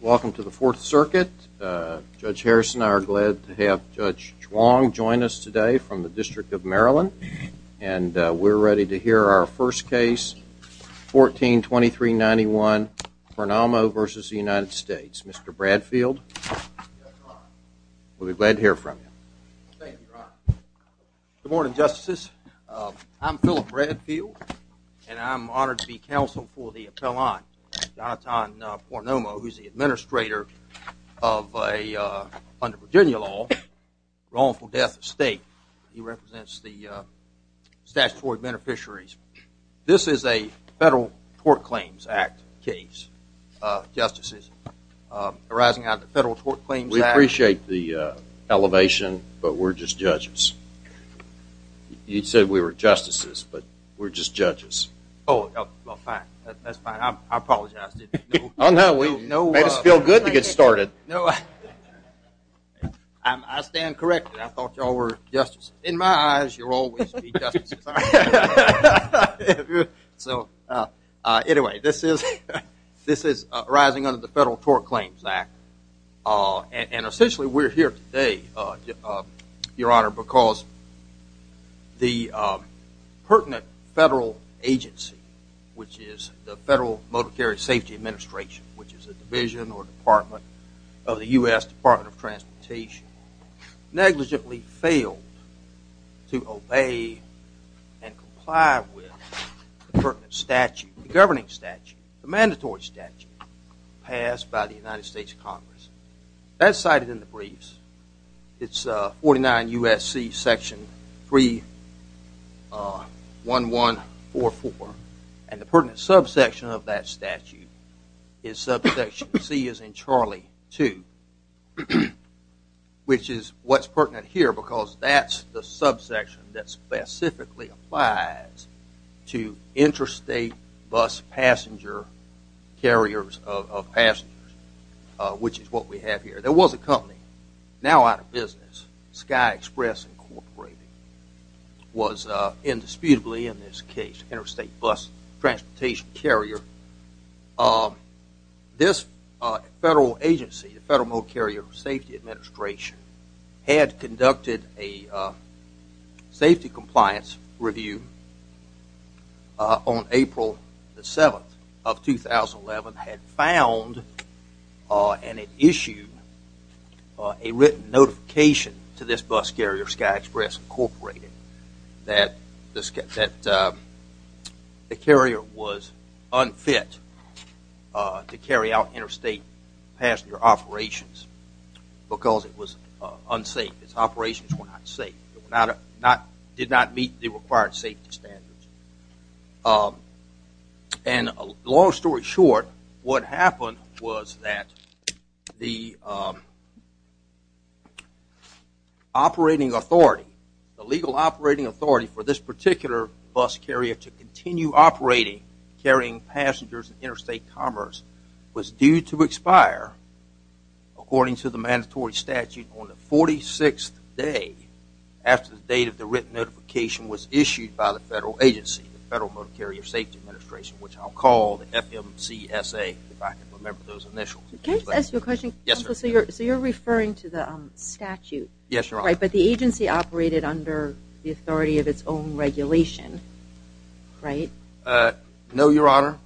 Welcome to the Fourth Circuit. Judge Harrison and I are glad to have Judge Chuang join us today from the District of Maryland, and we're ready to hear our first case, 142391 Pornomo v. United States. Mr. Bradfield, we'll be glad to hear from you. Thank you, Your Honor. Good morning, Justices. I'm Phillip Bradfield, and I'm honored to be counsel for the appellant, Jonatan Pornomo, who's the administrator of a, under Virginia law, wrongful death of state. He represents the statutory beneficiaries. This is a Federal Tort Claims Act case, Justices. Arising out of the Federal Tort Claims Act. We appreciate the elevation, but we're just judges. You said we were Justices, but we're just judges. Oh, well, fine. That's fine. I apologize. Oh, no. We made us feel good to get started. I stand corrected. I thought you all were Justices. In my eyes, you'll always be Justices. Anyway, this is arising under the Federal Tort Claims Act, and essentially we're here today, Your Honor, because the pertinent federal agency, which is the Federal Motor Carrier Safety Administration, which is a division or department of the U.S. Department of Transportation, negligently failed to obey and comply with the pertinent statute, the governing statute, the mandatory statute, passed by the United States Congress. That's cited in the briefs. It's 49 U.S.C. section 31144, and the pertinent subsection of that statute is subsection C as in Charlie 2, which is what's pertinent here because that's the subsection that specifically applies to interstate bus passenger, carriers of passengers, which is what we have here. There was a company now out of business, Sky Express Incorporated, was indisputably in this case interstate bus transportation carrier. This federal agency, the Federal Motor Carrier Safety Administration, had conducted a safety compliance review on April the 7th of 2011, had found and had issued a written notification to this bus carrier, Sky Express Incorporated, that the carrier was unfit to carry out interstate passenger operations because it was unsafe. Its operations were not safe. It did not meet the required safety standards. And long story short, what happened was that the operating authority, the legal operating authority for this particular bus carrier to continue operating, carrying passengers in interstate commerce, was due to expire according to the mandatory statute on the 46th day after the date of the written notification was issued by the federal agency, the Federal Motor Carrier Safety Administration, which I'll FMCSA, if I can remember those initials. Can I just ask you a question? Yes, sir. So you're referring to the statute? Yes, Your Honor. Right, but the agency operated under the authority of its own regulation, right? No, Your Honor.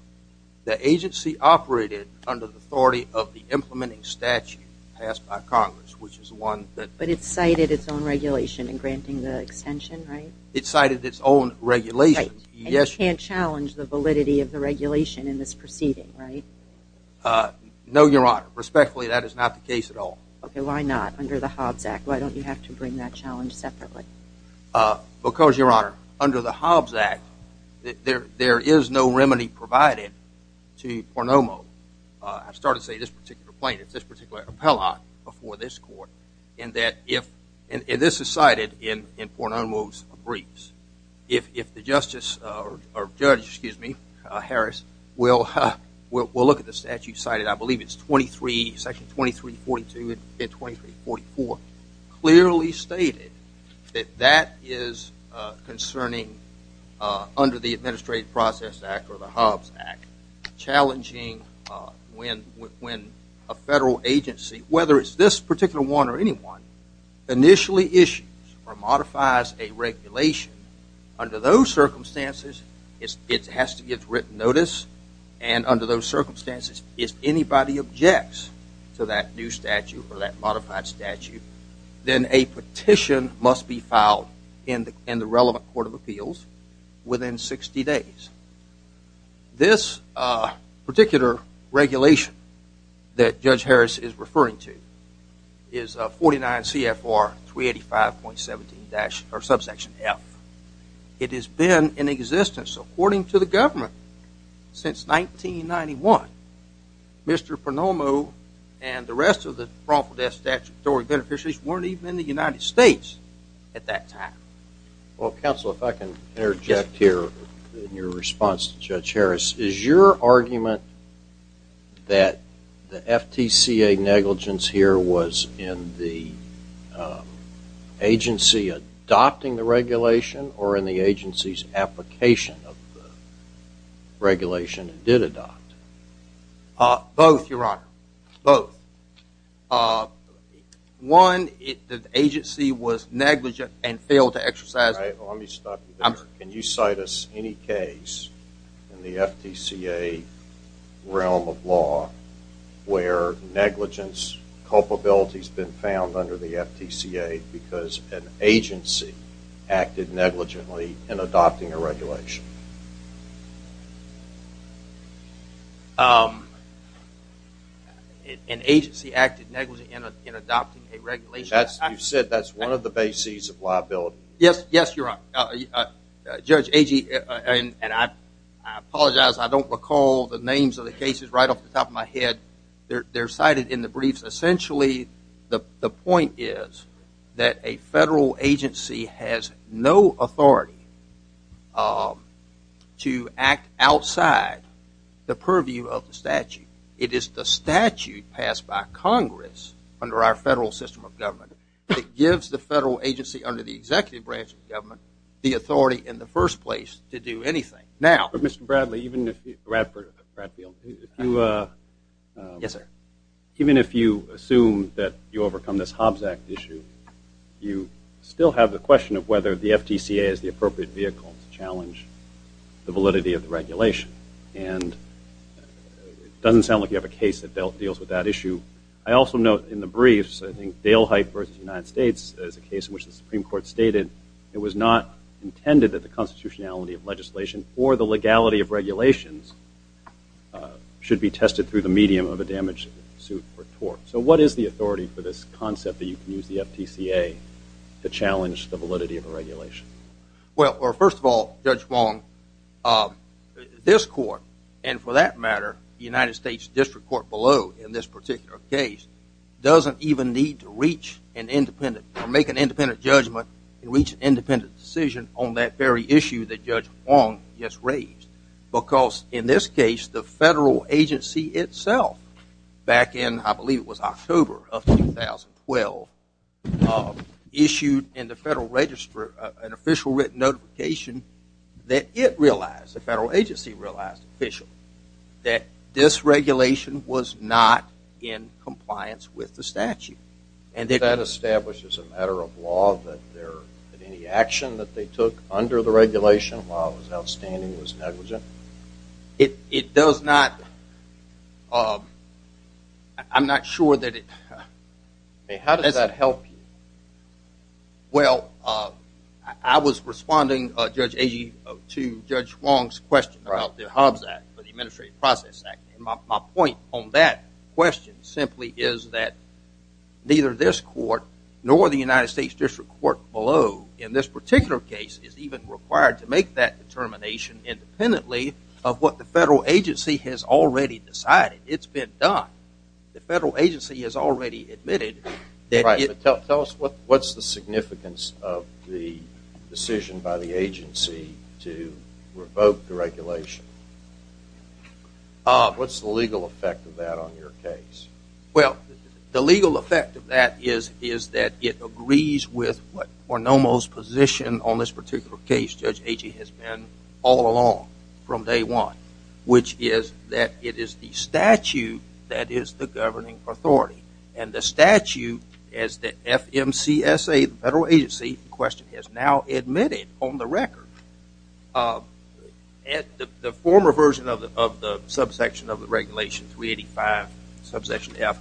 The agency operated under the authority of the implementing statute passed by Congress, which is one that... But it cited its own regulation in granting the extension, right? It cited its own regulation, yes. And you can't challenge the regulation in this proceeding, right? No, Your Honor. Respectfully, that is not the case at all. Okay, why not under the Hobbs Act? Why don't you have to bring that challenge separately? Because, Your Honor, under the Hobbs Act, there is no remedy provided to Pornomo. I started to say this particular plaintiff, this particular appellant before this court, and that if... We'll look at the statute cited. I believe it's 23, section 2342 and 2344, clearly stated that that is concerning under the Administrative Process Act or the Hobbs Act, challenging when a federal agency, whether it's this particular one or anyone, initially issues or modifies a and under those circumstances, if anybody objects to that new statute or that modified statute, then a petition must be filed in the relevant Court of Appeals within 60 days. This particular regulation that Judge Harris is referring to is 49 CFR 385.17 subsection F. It has been in existence, according to the government, since 1991. Mr. Pornomo and the rest of the wrongful death statutory beneficiaries weren't even in the United States at that time. Well, counsel, if I can interject here in your response to Judge Harris, is your argument that the FTCA negligence here was in the agency adopting the regulation or in the agency's application of the regulation it did adopt? Both, Your Honor. Both. One, the agency was negligent and failed to exercise... All right, let me stop you there. Can you cite us any case in the FTCA realm of law where negligence culpability has been found under the FTCA because an agency acted negligently in adopting a regulation? An agency acted negligently in adopting a regulation? You said that's one of the bases of liability. Yes, Your Honor. Judge Agee, and I apologize, I don't recall the names of the cases right off the top of my head. They're cited in the briefs. Essentially, the point is that a federal agency has no authority to act outside the purview of the statute. It is the statute passed by Congress under our federal system of government that gives the federal agency under the executive branch of government the authority in the first place to do anything. Now, Mr. Bradley, even if you assume that you overcome this Hobbs Act issue, you still have the question of whether the FTCA is the appropriate vehicle to challenge the validity of the regulation. And it doesn't sound like you have a case that deals with that issue. I also note in the briefs, I think Dale Height versus the United States is a case in which the Supreme Court stated it was not intended that the constitutionality of legislation or the legality of regulations should be tested through the medium of a damaged suit or tort. So what is the authority for this concept that you can use the FTCA to challenge the validity of a regulation? Well, first of all, Judge Wong, this court, and for that matter, the United States District Court below in this particular case, doesn't even need to reach an independent or make an independent judgment and reach an independent decision on that very issue that Judge Wong just raised. Because in this case, the federal agency itself, back in, I believe it was October of 2012, issued in the federal official written notification that it realized, the federal agency realized officially, that this regulation was not in compliance with the statute. And that establishes a matter of law that any action that they took under the regulation, while it was outstanding, was I was responding, Judge Agee, to Judge Wong's question about the HUBS Act, the Administrative Process Act. And my point on that question simply is that neither this court nor the United States District Court below in this particular case is even required to make that determination independently of what the federal agency has already decided. It's been done. The federal agency has already admitted that it... the decision by the agency to revoke the regulation. What's the legal effect of that on your case? Well, the legal effect of that is, is that it agrees with what Ornomo's position on this particular case, Judge Agee has been all along from day one, which is that it is the statute that is the governing authority. And the statute, as the FMCSA, the federal agency in question, has now admitted on the record, the former version of the subsection of the regulation 385, subsection F,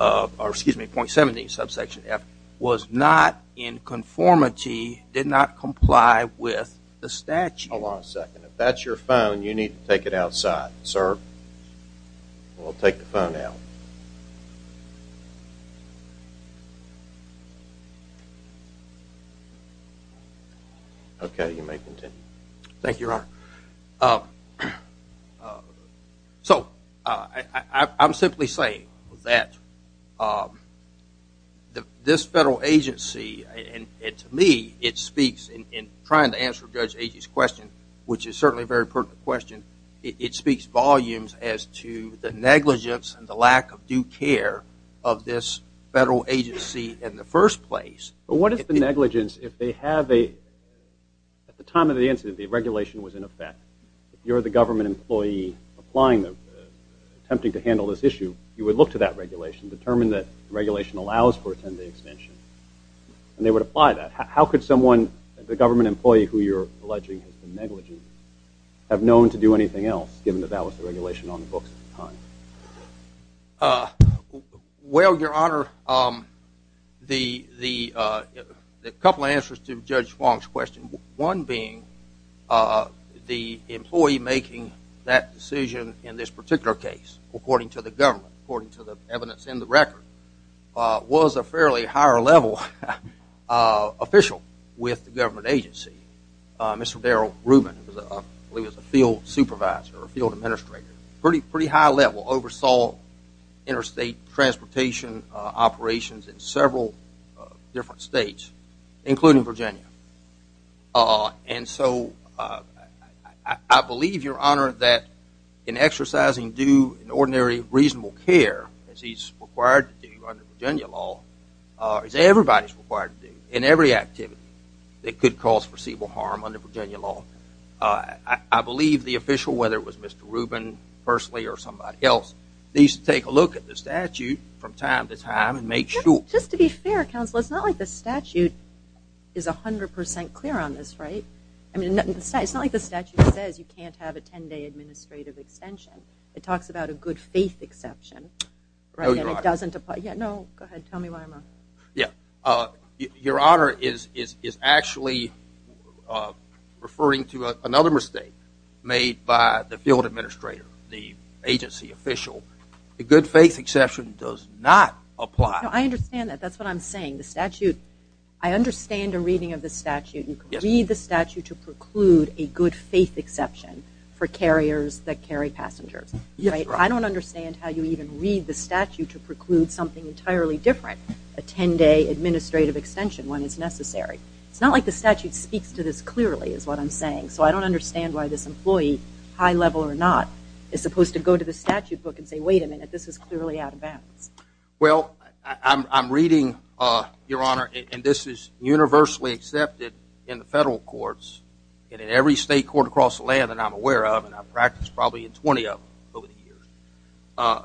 or excuse me, .17, subsection F, was not in conformity, did not comply with the statute. Hold on a second. If that's your phone, you need to take it outside, sir. We'll take the phone out. Okay, you may continue. Thank you, Your Honor. So, I'm simply saying that this federal agency, and to me, it speaks in trying to answer Judge Agee's question, which is certainly a very pertinent question, it speaks volumes as to the negligence and the lack of due care of this federal agency in the first place. But what is the negligence if they have a, at the time of the incident, the regulation was in effect, if you're the government employee applying them, attempting to handle this issue, you would look to that regulation, determine that regulation allows for a 10-day extension, and they would apply that. How could someone, the government employee who you're alleging has negligence, have known to do anything else given that that was the regulation on the books at the time? Well, Your Honor, the couple answers to Judge Fong's question, one being the employee making that decision in this particular case, according to the government, according to the evidence in the record, was a fairly higher level official with the government agency. Mr. Darrell, I believe he was a field supervisor or a field administrator, pretty high level, oversaw interstate transportation operations in several different states, including Virginia. And so I believe, Your Honor, that in exercising due and ordinary reasonable care, as he's required to do under Virginia law, as everybody's required to do in every activity that could cause foreseeable harm under Virginia law, I believe the official, whether it was Mr. Rubin, firstly, or somebody else, needs to take a look at the statute from time to time and make sure. Just to be fair, counsel, it's not like the statute is 100 percent clear on this, right? I mean, it's not like the statute says you can't have a 10-day administrative extension. It talks about a good faith exception, right, and it doesn't apply. Yeah, no, go ahead, tell me why. Yeah, Your Honor is actually referring to another mistake made by the field administrator, the agency official. The good faith exception does not apply. No, I understand that. That's what I'm saying. The statute, I understand a reading of the statute. You can read the statute to preclude a good faith exception for carriers that carry passengers, right? I don't understand how you even read the statute to preclude something entirely different, a 10-day administrative extension when it's necessary. It's not like the statute speaks to this clearly, is what I'm saying. So I don't understand why this employee, high level or not, is supposed to go to the statute book and say, wait a minute, this is clearly out of bounds. Well, I'm reading, Your Honor, and this is universally accepted in the federal courts and in every state court across the land that I'm aware of, and I've practiced probably in 20 of them over the years.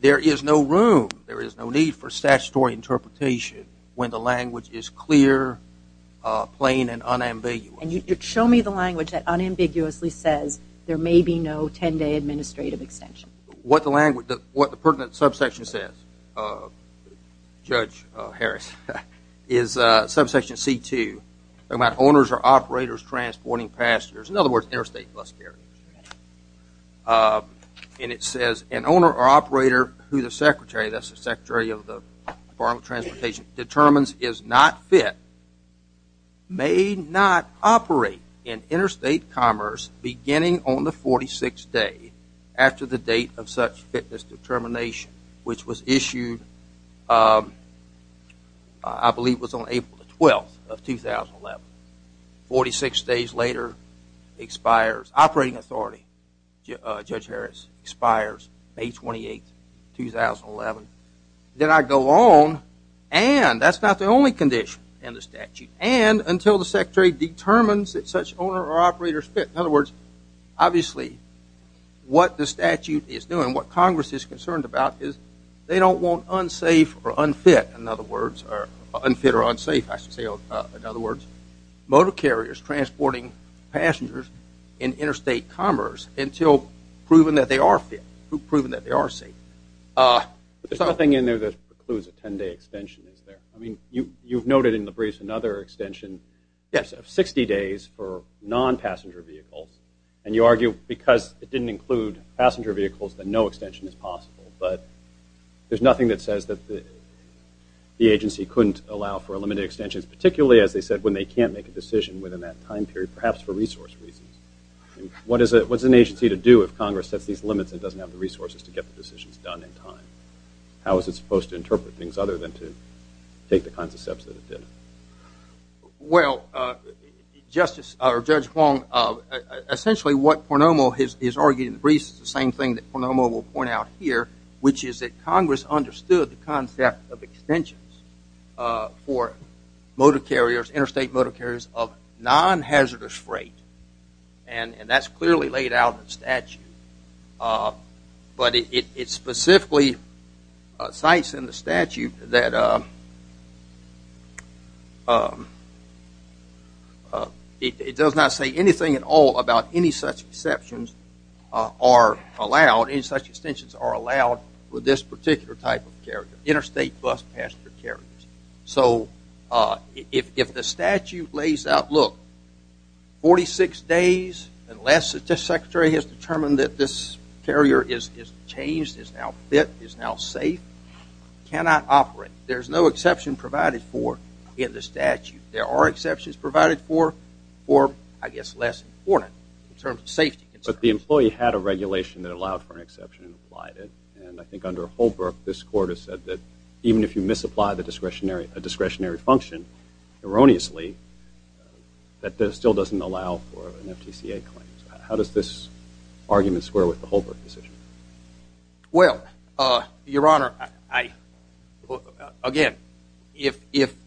There is no room, there is no need for statutory interpretation when the language is clear, plain, and unambiguous. And you could show me the language that unambiguously says there may be no 10-day administrative extension. What the language, what the pertinent subsection says, Judge Harris, is subsection C2, about owners or operators transporting passengers, in other words, interstate bus carriers. And it says an owner or operator who the Secretary, that's the Secretary of the Department of Transportation, determines is not fit may not operate in interstate commerce beginning on the 46th day after the date of such fitness determination, which was issued, I believe, was on April the 12th of 2011. 46 days later, expires, operating authority, Judge Harris, expires May 28, 2011. Then I go on, and that's not the only condition in the statute, and until the Secretary determines that such owner or operator is fit, in other words, obviously what the statute is doing, what Congress is concerned about is they don't want unsafe or unfit, in other words, or unfit or unsafe, I should say, in other words, motor carriers transporting passengers in interstate commerce until proven that they are fit, proven that they are safe. There's nothing in there that precludes a 10-day extension, is there? I mean, you've noted in the briefs another extension of 60 days for non-passenger vehicles, and you argue because it didn't include passenger vehicles that no there's nothing that says that the agency couldn't allow for a limited extension, particularly, as they said, when they can't make a decision within that time period, perhaps for resource reasons. What is an agency to do if Congress sets these limits and doesn't have the resources to get the decisions done in time? How is it supposed to interpret things other than to take the kinds of steps that it did? Well, Justice, or Judge Wong, essentially what point out here, which is that Congress understood the concept of extensions for motor carriers, interstate motor carriers of non-hazardous freight, and that's clearly laid out in statute, but it specifically cites in the statute that it does not say anything at all about any such exceptions are allowed, any such extensions are allowed with this particular type of carrier, interstate bus passenger carriers. So if the statute lays out, look, 46 days, unless the Secretary has determined that this carrier is changed, is now fit, is now safe, cannot operate. There's no exception provided for in the statute. There are exceptions provided for I guess less important in terms of safety. But the employee had a regulation that allowed for an exception and applied it. And I think under Holbrook, this Court has said that even if you misapply a discretionary function erroneously, that still doesn't allow for an FTCA claim. So how does this argument square with the Holbrook decision? Well, Your Honor, I, again, if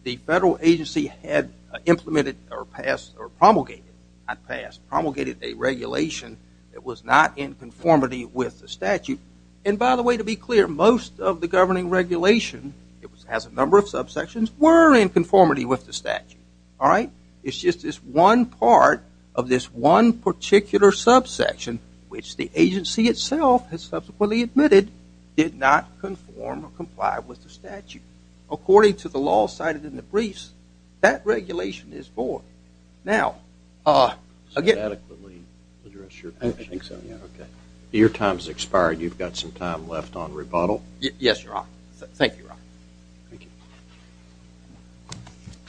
the federal agency had implemented or passed or promulgated, not passed, promulgated a regulation that was not in conformity with the statute, and by the way, to be clear, most of the governing regulation, it has a number of subsections, were in conformity with the statute. All right? It's just this one part of this one particular subsection, which the agency itself has subsequently admitted did not conform or comply with the statute. According to the law cited in the briefs, that regulation is void. Now, again, I think so, yeah, okay. Your time's expired. You've got some time left on rebuttal. Yes, Your Honor. Thank you, Your Honor. Thank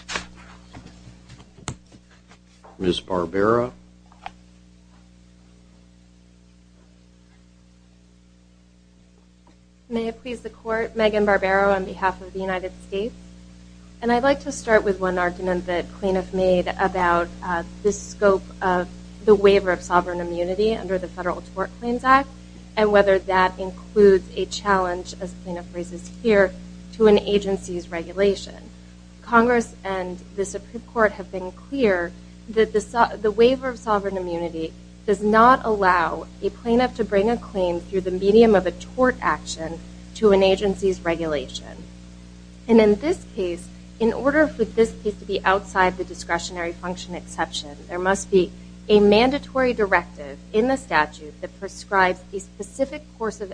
you. Ms. Barbera. May it please the Court, Megan Barbera on behalf of the United States. And I'd like to start with one argument that plaintiff made about this scope of the waiver of sovereign immunity under the Federal Tort Claims Act and whether that includes a challenge, as plaintiff raises here, to an agency's regulation. Congress and the Supreme Court have been clear that the waiver of sovereign immunity does not allow a plaintiff to bring a claim through the medium of a tort action to an agency's regulation. And in this case, in order for this case to be outside the discretionary function exception, there must be a mandatory directive in the statute that prescribes a discretionary function.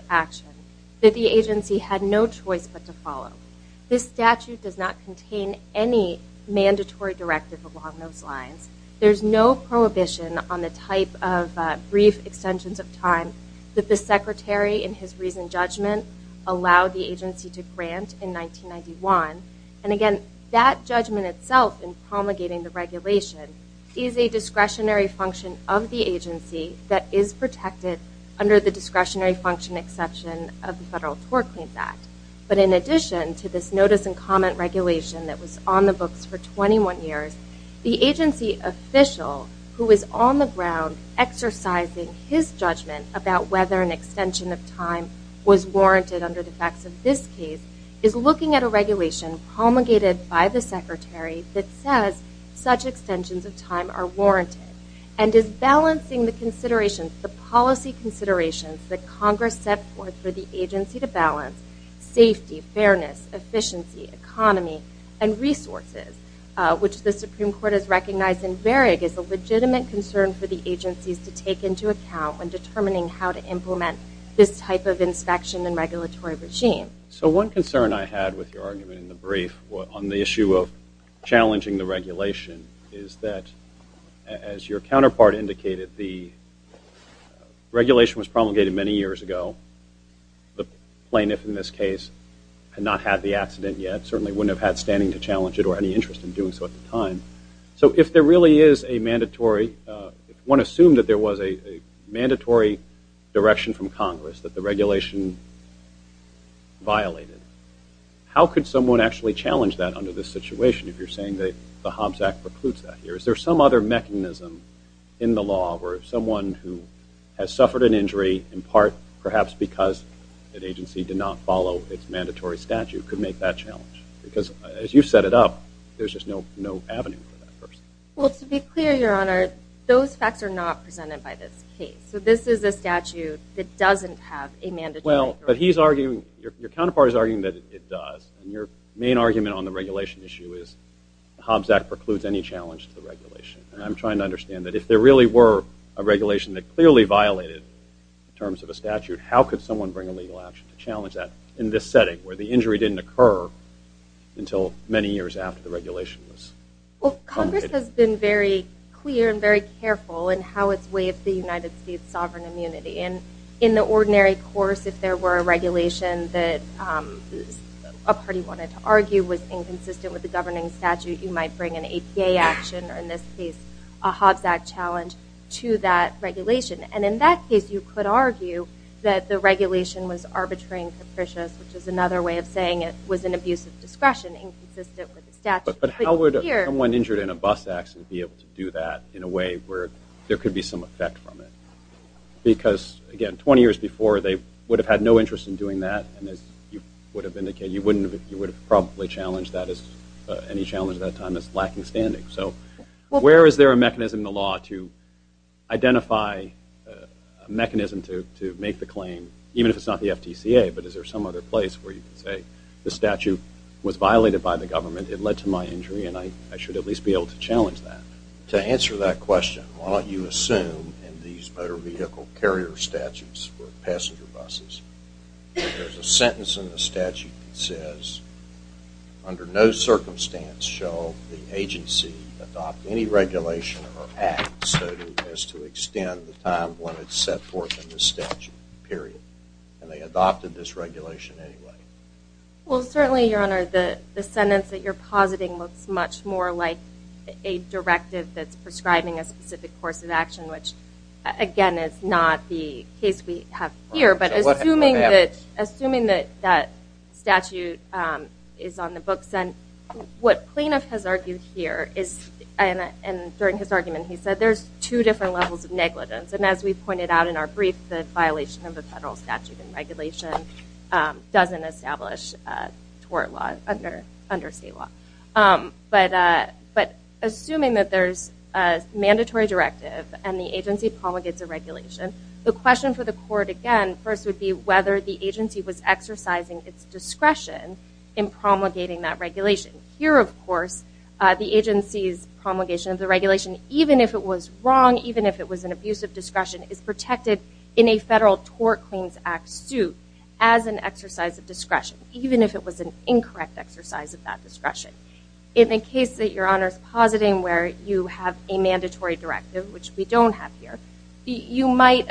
This statute does not contain any mandatory directive along those lines. There's no prohibition on the type of brief extensions of time that the Secretary, in his recent judgment, allowed the agency to grant in 1991. And again, that judgment itself in promulgating the regulation is a discretionary function of the agency that is protected under the discretionary function exception of the Federal Tort Claims Act. But in addition to this notice and comment regulation that was on the books for 21 years, the agency official who is on the ground exercising his judgment about whether an extension of time was warranted under the facts of this case is looking at a regulation promulgated by the Secretary that says such that Congress set forth for the agency to balance safety, fairness, efficiency, economy, and resources, which the Supreme Court has recognized in Varig as a legitimate concern for the agencies to take into account when determining how to implement this type of inspection and regulatory regime. So one concern I had with your argument in the brief on the issue of challenging the regulation is that, as your counterpart indicated, the regulation was promulgated many years ago. The plaintiff in this case had not had the accident yet, certainly wouldn't have had standing to challenge it or any interest in doing so at the time. So if there really is a mandatory, if one assumed that there was a mandatory direction from Congress that the regulation violated, how could someone actually challenge that under this situation if you're saying that the Hobbs Act precludes that here? Is there some other mechanism in the law where someone who has suffered an injury, in part perhaps because that agency did not follow its mandatory statute, could make that challenge? Because as you've set it up, there's just no avenue for that person. Well, to be clear, Your Honor, those facts are not presented by this case. So this is a statute that doesn't have a mandatory. Well, but he's arguing, your counterpart is arguing that it does, and your main argument on the regulation issue is the Hobbs Act precludes any challenge to regulation. And I'm trying to understand that if there really were a regulation that clearly violated in terms of a statute, how could someone bring a legal action to challenge that in this setting where the injury didn't occur until many years after the regulation was? Well, Congress has been very clear and very careful in how it's waived the United States sovereign immunity. And in the ordinary course, if there were a regulation that a party wanted to argue was inconsistent with the governing statute, you might bring an APA action, or in this case, a Hobbs Act challenge, to that regulation. And in that case, you could argue that the regulation was arbitrary and capricious, which is another way of saying it was an abuse of discretion inconsistent with the statute. But how would someone injured in a bus accident be able to do that in a way where there could be some effect from it? Because again, 20 years before, they would have had no interest in doing that. And as you would have probably challenged that as any challenge at that time as lacking standing. So where is there a mechanism in the law to identify a mechanism to make the claim, even if it's not the FTCA, but is there some other place where you can say the statute was violated by the government, it led to my injury, and I should at least be able to challenge that? To answer that question, why don't you assume in these motor vehicle carrier statutes for passenger buses, there's a sentence in the statute that says, under no circumstance shall the agency adopt any regulation or act so as to extend the time when it's set forth in the statute, period. And they adopted this regulation anyway. Well, certainly, Your Honor, the sentence that you're positing looks much more like a directive that's prescribing a specific course of action, which again, is not the case we have here. But assuming that that statute is on the books, what Planoff has argued here is, and during his argument, he said there's two different levels of negligence. And as we pointed out in our brief, the violation of the federal statute and regulation doesn't establish a tort law under state law. But assuming that there's a mandatory directive and the agency promulgates a regulation, the question for the court, again, first would be whether the agency was exercising its discretion in promulgating that regulation. Here, of course, the agency's promulgation of the regulation, even if it was wrong, even if it was an abuse of discretion, is protected in a federal Tort Claims Act suit as an exercise of discretion, even if it was an incorrect exercise of that discretion. In the case that Your Honor's positing, where you have a mandatory directive, which we don't have here, you might,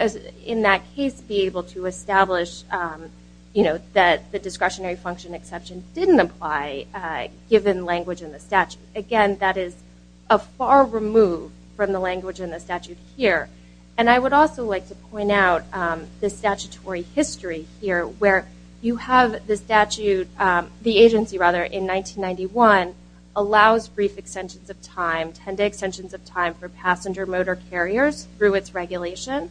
in that case, be able to establish that the discretionary function exception didn't apply, given language in the statute. Again, that is far removed from the language in the statute here. And I would also like to point out the statutory history here, where you have the statute, the agency, rather, in 1991, allows brief extensions of time, 10-day extensions of time for passenger motor carriers through its regulation.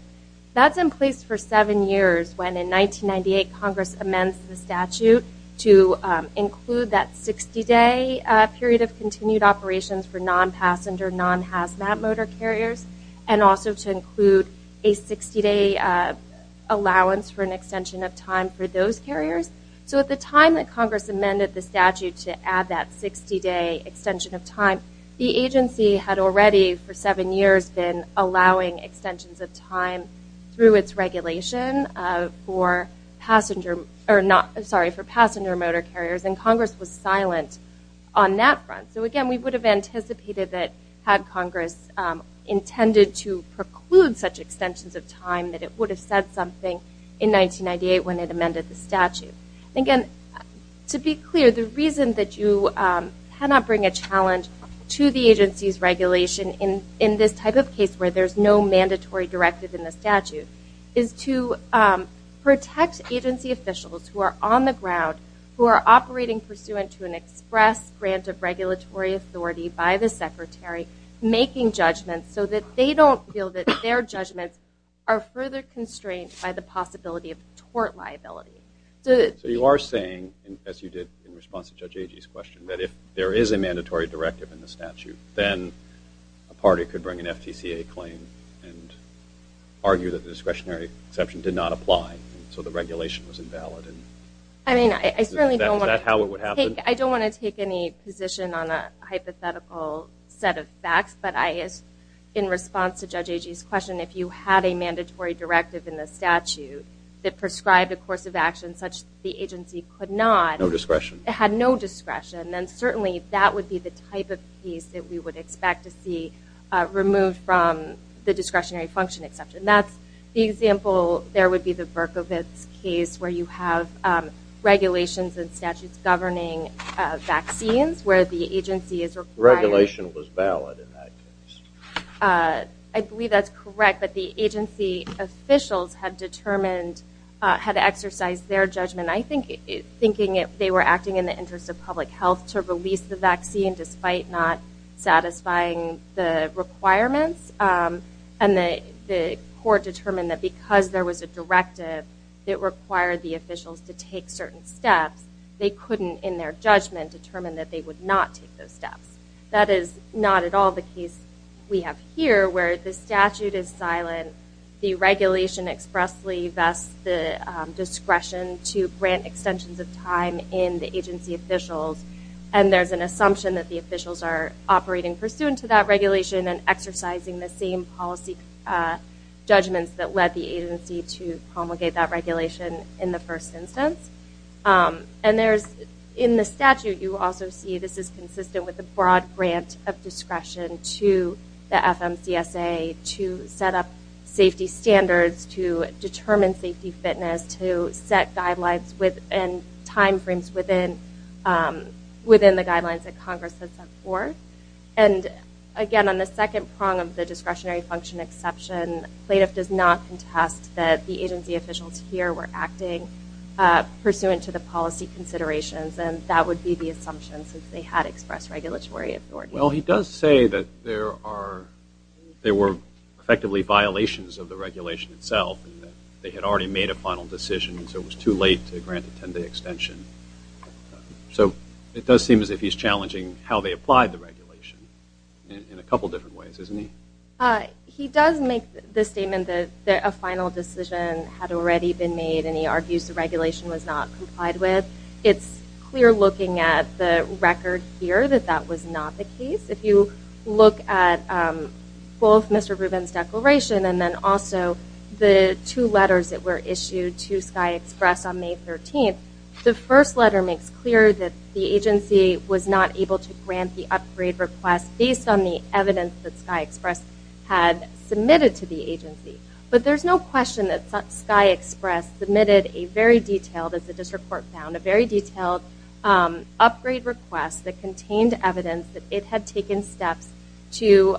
That's in place for seven years, when in 1998 Congress amends the statute to include that 60-day period of continued operations for non-passenger, non-HASMAT motor carriers, and also to include a 60-day allowance for an extension of time for those carriers. So at the time that Congress amended the statute to add that 60-day extension of time, the agency had already, for seven years, been allowing extensions of time through its regulation for passenger motor carriers, and Congress was silent on that front. So again, we would have anticipated that, had Congress intended to preclude such extensions of time, that it would have said something in 1998 when it amended the statute. Again, to be clear, the reason that you cannot bring a challenge to the agency's regulation in this type of case, where there's no mandatory directive in the statute, is to protect agency officials who are on the ground, who are operating pursuant to an express grant of regulatory authority by the Secretary, making judgments so that they don't feel that their judgments are further constrained by the possibility of tort liability. So you are saying, as you did in response to Judge Agee's question, that if there is a mandatory directive in the statute, then a party could bring an FTCA claim and argue that the discretionary exception did not apply, and so the regulation was invalid. I mean, I certainly don't want to- take any position on a hypothetical set of facts, but in response to Judge Agee's question, if you had a mandatory directive in the statute that prescribed a course of action such the agency could not- No discretion. Had no discretion, then certainly that would be the type of case that we would expect to see removed from the discretionary function exception. That's the example, there would be the Berkovitz case where you have regulations and statutes governing vaccines where the agency is- Regulation was valid in that case. I believe that's correct, but the agency officials had determined- had exercised their judgment, I think, thinking that they were acting in the interest of public health to release the vaccine despite not satisfying the requirements, and the court determined that because there was a directive that required the officials to take certain steps, they couldn't in their judgment determine that they would not take those steps. That is not at all the case we have here where the statute is silent, the regulation expressly vests the discretion to grant extensions of time in the agency officials, and there's an assumption that the officials are operating pursuant to that in the first instance. And there's- in the statute you also see this is consistent with the broad grant of discretion to the FMCSA to set up safety standards, to determine safety fitness, to set guidelines and timeframes within the guidelines that Congress has set forth. And again, on the second prong of the discretionary function exception, plaintiff does not contest that the agency officials here were acting pursuant to the policy considerations, and that would be the assumption since they had expressed regulatory authority. Well, he does say that there are- there were effectively violations of the regulation itself, and that they had already made a final decision, so it was too late to grant a 10-day extension. So it does seem as if he's challenging how they applied the regulation in a couple different ways, isn't he? He does make the statement that a final decision had already been made, and he argues the regulation was not complied with. It's clear looking at the record here that that was not the case. If you look at both Mr. Rubin's declaration and then also the two letters that were issued to Sky Express on May 13th, the first letter makes clear that the agency was not able to grant the upgrade request based on the evidence that Sky Express had submitted to the agency. But there's no question that Sky Express submitted a very detailed, as the district court found, a very detailed upgrade request that contained evidence that it had taken steps to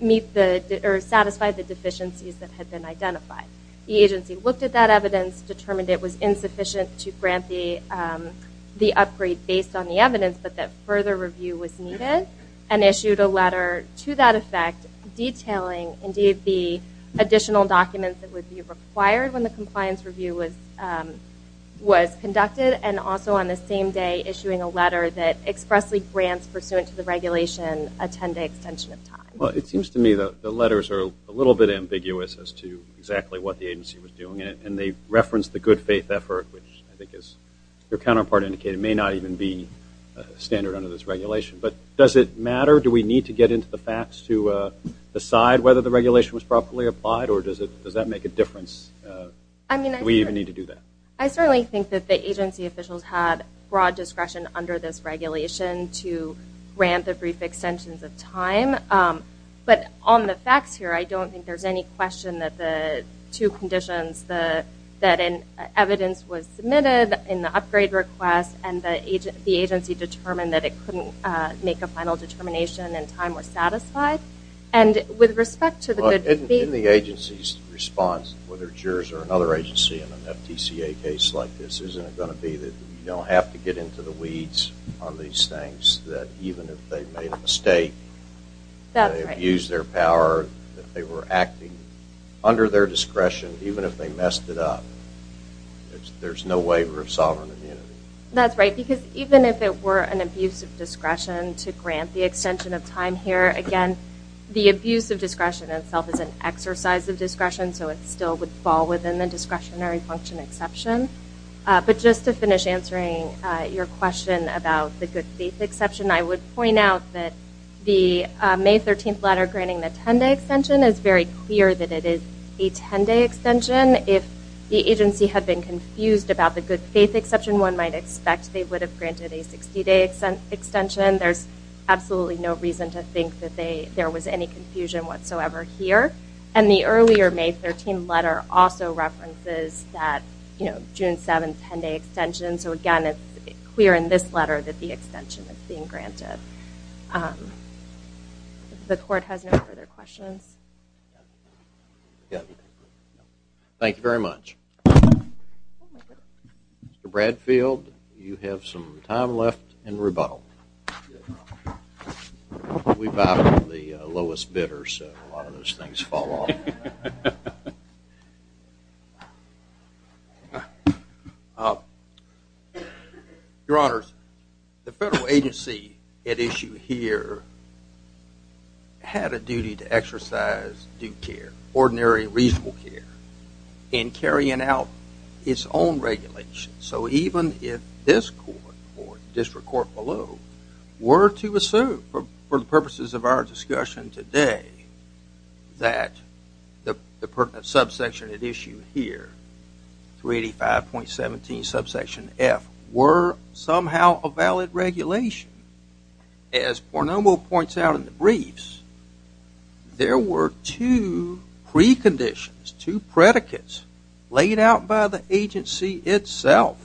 meet the- or satisfy the deficiencies that had been identified. The agency looked at that evidence, determined it was insufficient to grant the upgrade based on the evidence, but that further review was needed, and issued a letter to that effect detailing, indeed, the additional documents that would be required when the compliance review was conducted, and also on the same day issuing a letter that expressly grants pursuant to the regulation a 10-day extension of time. Well, it seems to me the letters are a little bit ambiguous as to exactly what the agency was doing, and they reference the good faith effort, which I think, as your counterpart indicated, may not even be standard under this regulation. But does it matter? Do we need to get into the facts to decide whether the regulation was properly applied, or does it- does that make a difference? I mean, do we even need to do that? I certainly think that the agency officials had broad discretion under this regulation to grant the brief extensions of time, but on the facts here, I don't think there's any question that the submitted in the upgrade request, and the agency determined that it couldn't make a final determination, and time was satisfied. And with respect to the good faith- In the agency's response, whether it's yours or another agency in an FTCA case like this, isn't it going to be that you don't have to get into the weeds on these things, that even if they made a mistake, that they abused their power, that they were acting under their discretion, even if they messed it up. There's no waiver of sovereign immunity. That's right, because even if it were an abuse of discretion to grant the extension of time here, again, the abuse of discretion itself is an exercise of discretion, so it still would fall within the discretionary function exception. But just to finish answering your question about the good faith exception, I would point out that the May 13th letter granting the 10-day extension is very clear that it is a 10-day extension. If the agency had been confused about the good faith exception, one might expect they would have granted a 60-day extension. There's absolutely no reason to think that there was any confusion whatsoever here. And the earlier May 13th letter also references that June 7th 10-day extension, so again, it's clear in this letter that the extension is being granted. If the court has no further questions. Thank you very much. Mr. Bradfield, you have some time left in rebuttal. Good. We've got the lowest bidder, so a lot of those things fall off. Your Honors, the federal agency at issue here had a duty to exercise due care, ordinary reasonable care, in carrying out its own regulations. So even if this court or the district court below were to assume for the purposes of our discussion today that the subsection at issue here, 385.17 subsection F, were somehow a valid regulation, as Pornomo points out in the briefs, there were two preconditions, two predicates laid out by the agency itself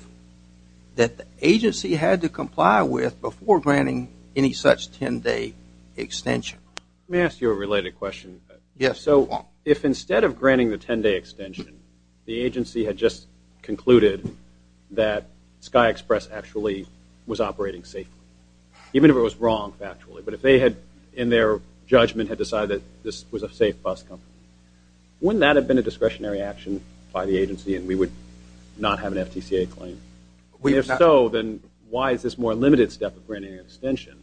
that the agency had to comply with before granting any such 10-day extension. May I ask you a related question? Yes. So if instead of granting the 10-day extension, the agency had just concluded that Sky Express actually was operating safely, even if it was wrong factually, but if they had, in their judgment, had decided that this was a safe bus company, wouldn't that have been a discretionary action by the agency and we would not have an FTCA claim? If so, then why is this more limited step of granting an extension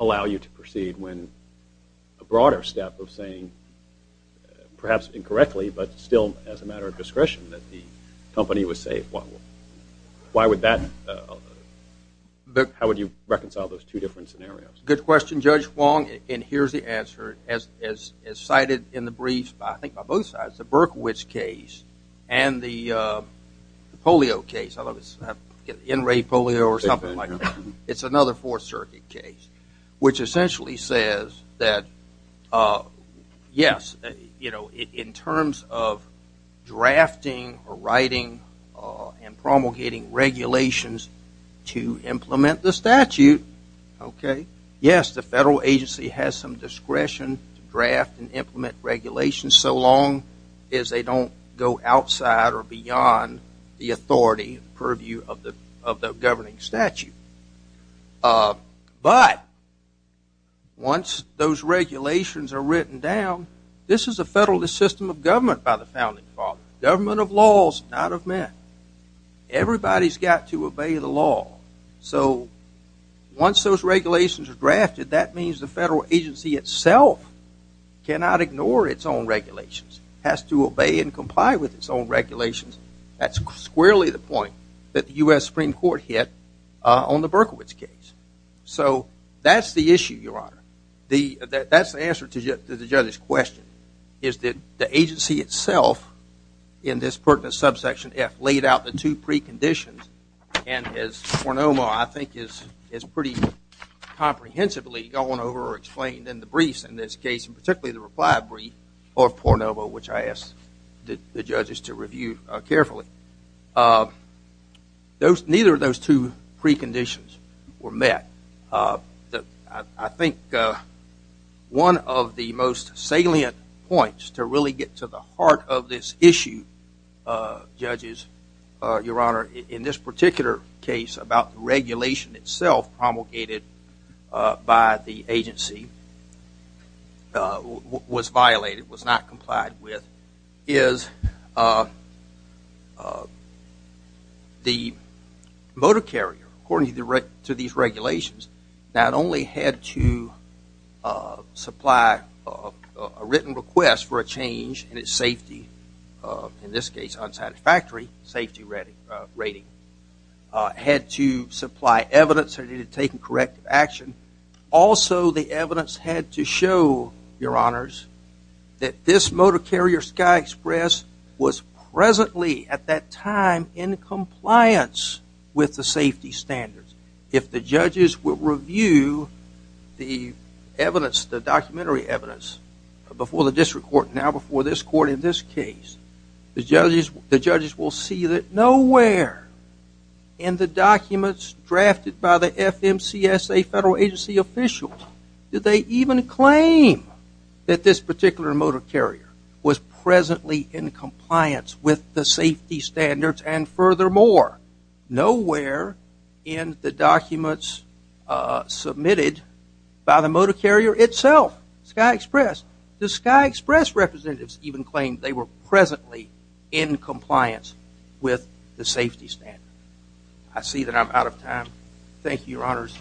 allow you to proceed when a broader step of saying, perhaps incorrectly, but still as a matter of discretion, that the reconcile those two different scenarios? Good question, Judge Wong, and here's the answer. As cited in the briefs, I think by both sides, the Berkowitz case and the polio case, in-rate polio or something like that, it's another Fourth Circuit case, which essentially says that, yes, you know, in terms of drafting or writing and promulgating regulations to implement the statute, okay, yes, the federal agency has some discretion to draft and implement regulations so long as they don't go outside or beyond the authority and purview of the governing statute. But once those regulations are written down, this is a federalist system of government by the founding father. Government of laws, not of men. Everybody's got to obey the law. So once those regulations are drafted, that means the federal agency itself cannot ignore its own regulations. It has to obey and comply with its own regulations. That's squarely the point that the U.S. Supreme Court hit on the Berkowitz case. So that's the issue, Your Honor. That's the answer to the judge's question, is that the agency itself in this Berkowitz subsection F laid out the two preconditions, and as Pornoma, I think, has pretty comprehensively gone over or explained in the briefs in this case, and particularly the reply brief of Pornoma, which I asked the judges to review carefully. Neither of those two preconditions were met. I think one of the most salient points to really get to the heart of this issue, judges, Your Honor, in this particular case about the regulation itself promulgated by the agency was violated, was not complied with, is the motor carrier, according to these regulations, not only had to supply a written request for a change in its safety, in this case unsatisfactory safety rating, had to supply evidence that it had taken corrective action. Also the evidence had to show, Your Honors, that this motor carrier Sky Express was presently at that time in compliance with the safety standards. If the judges will review the evidence, the documentary evidence, before the district court, now before this court in this case, the judges will see that nowhere in the documents drafted by FMCSA federal agency officials did they even claim that this particular motor carrier was presently in compliance with the safety standards, and furthermore, nowhere in the documents submitted by the motor carrier itself, Sky Express, did Sky Express representatives even claim they were presently in compliance with the safety standards. I see that I'm out of time. Thank you, Your Honors.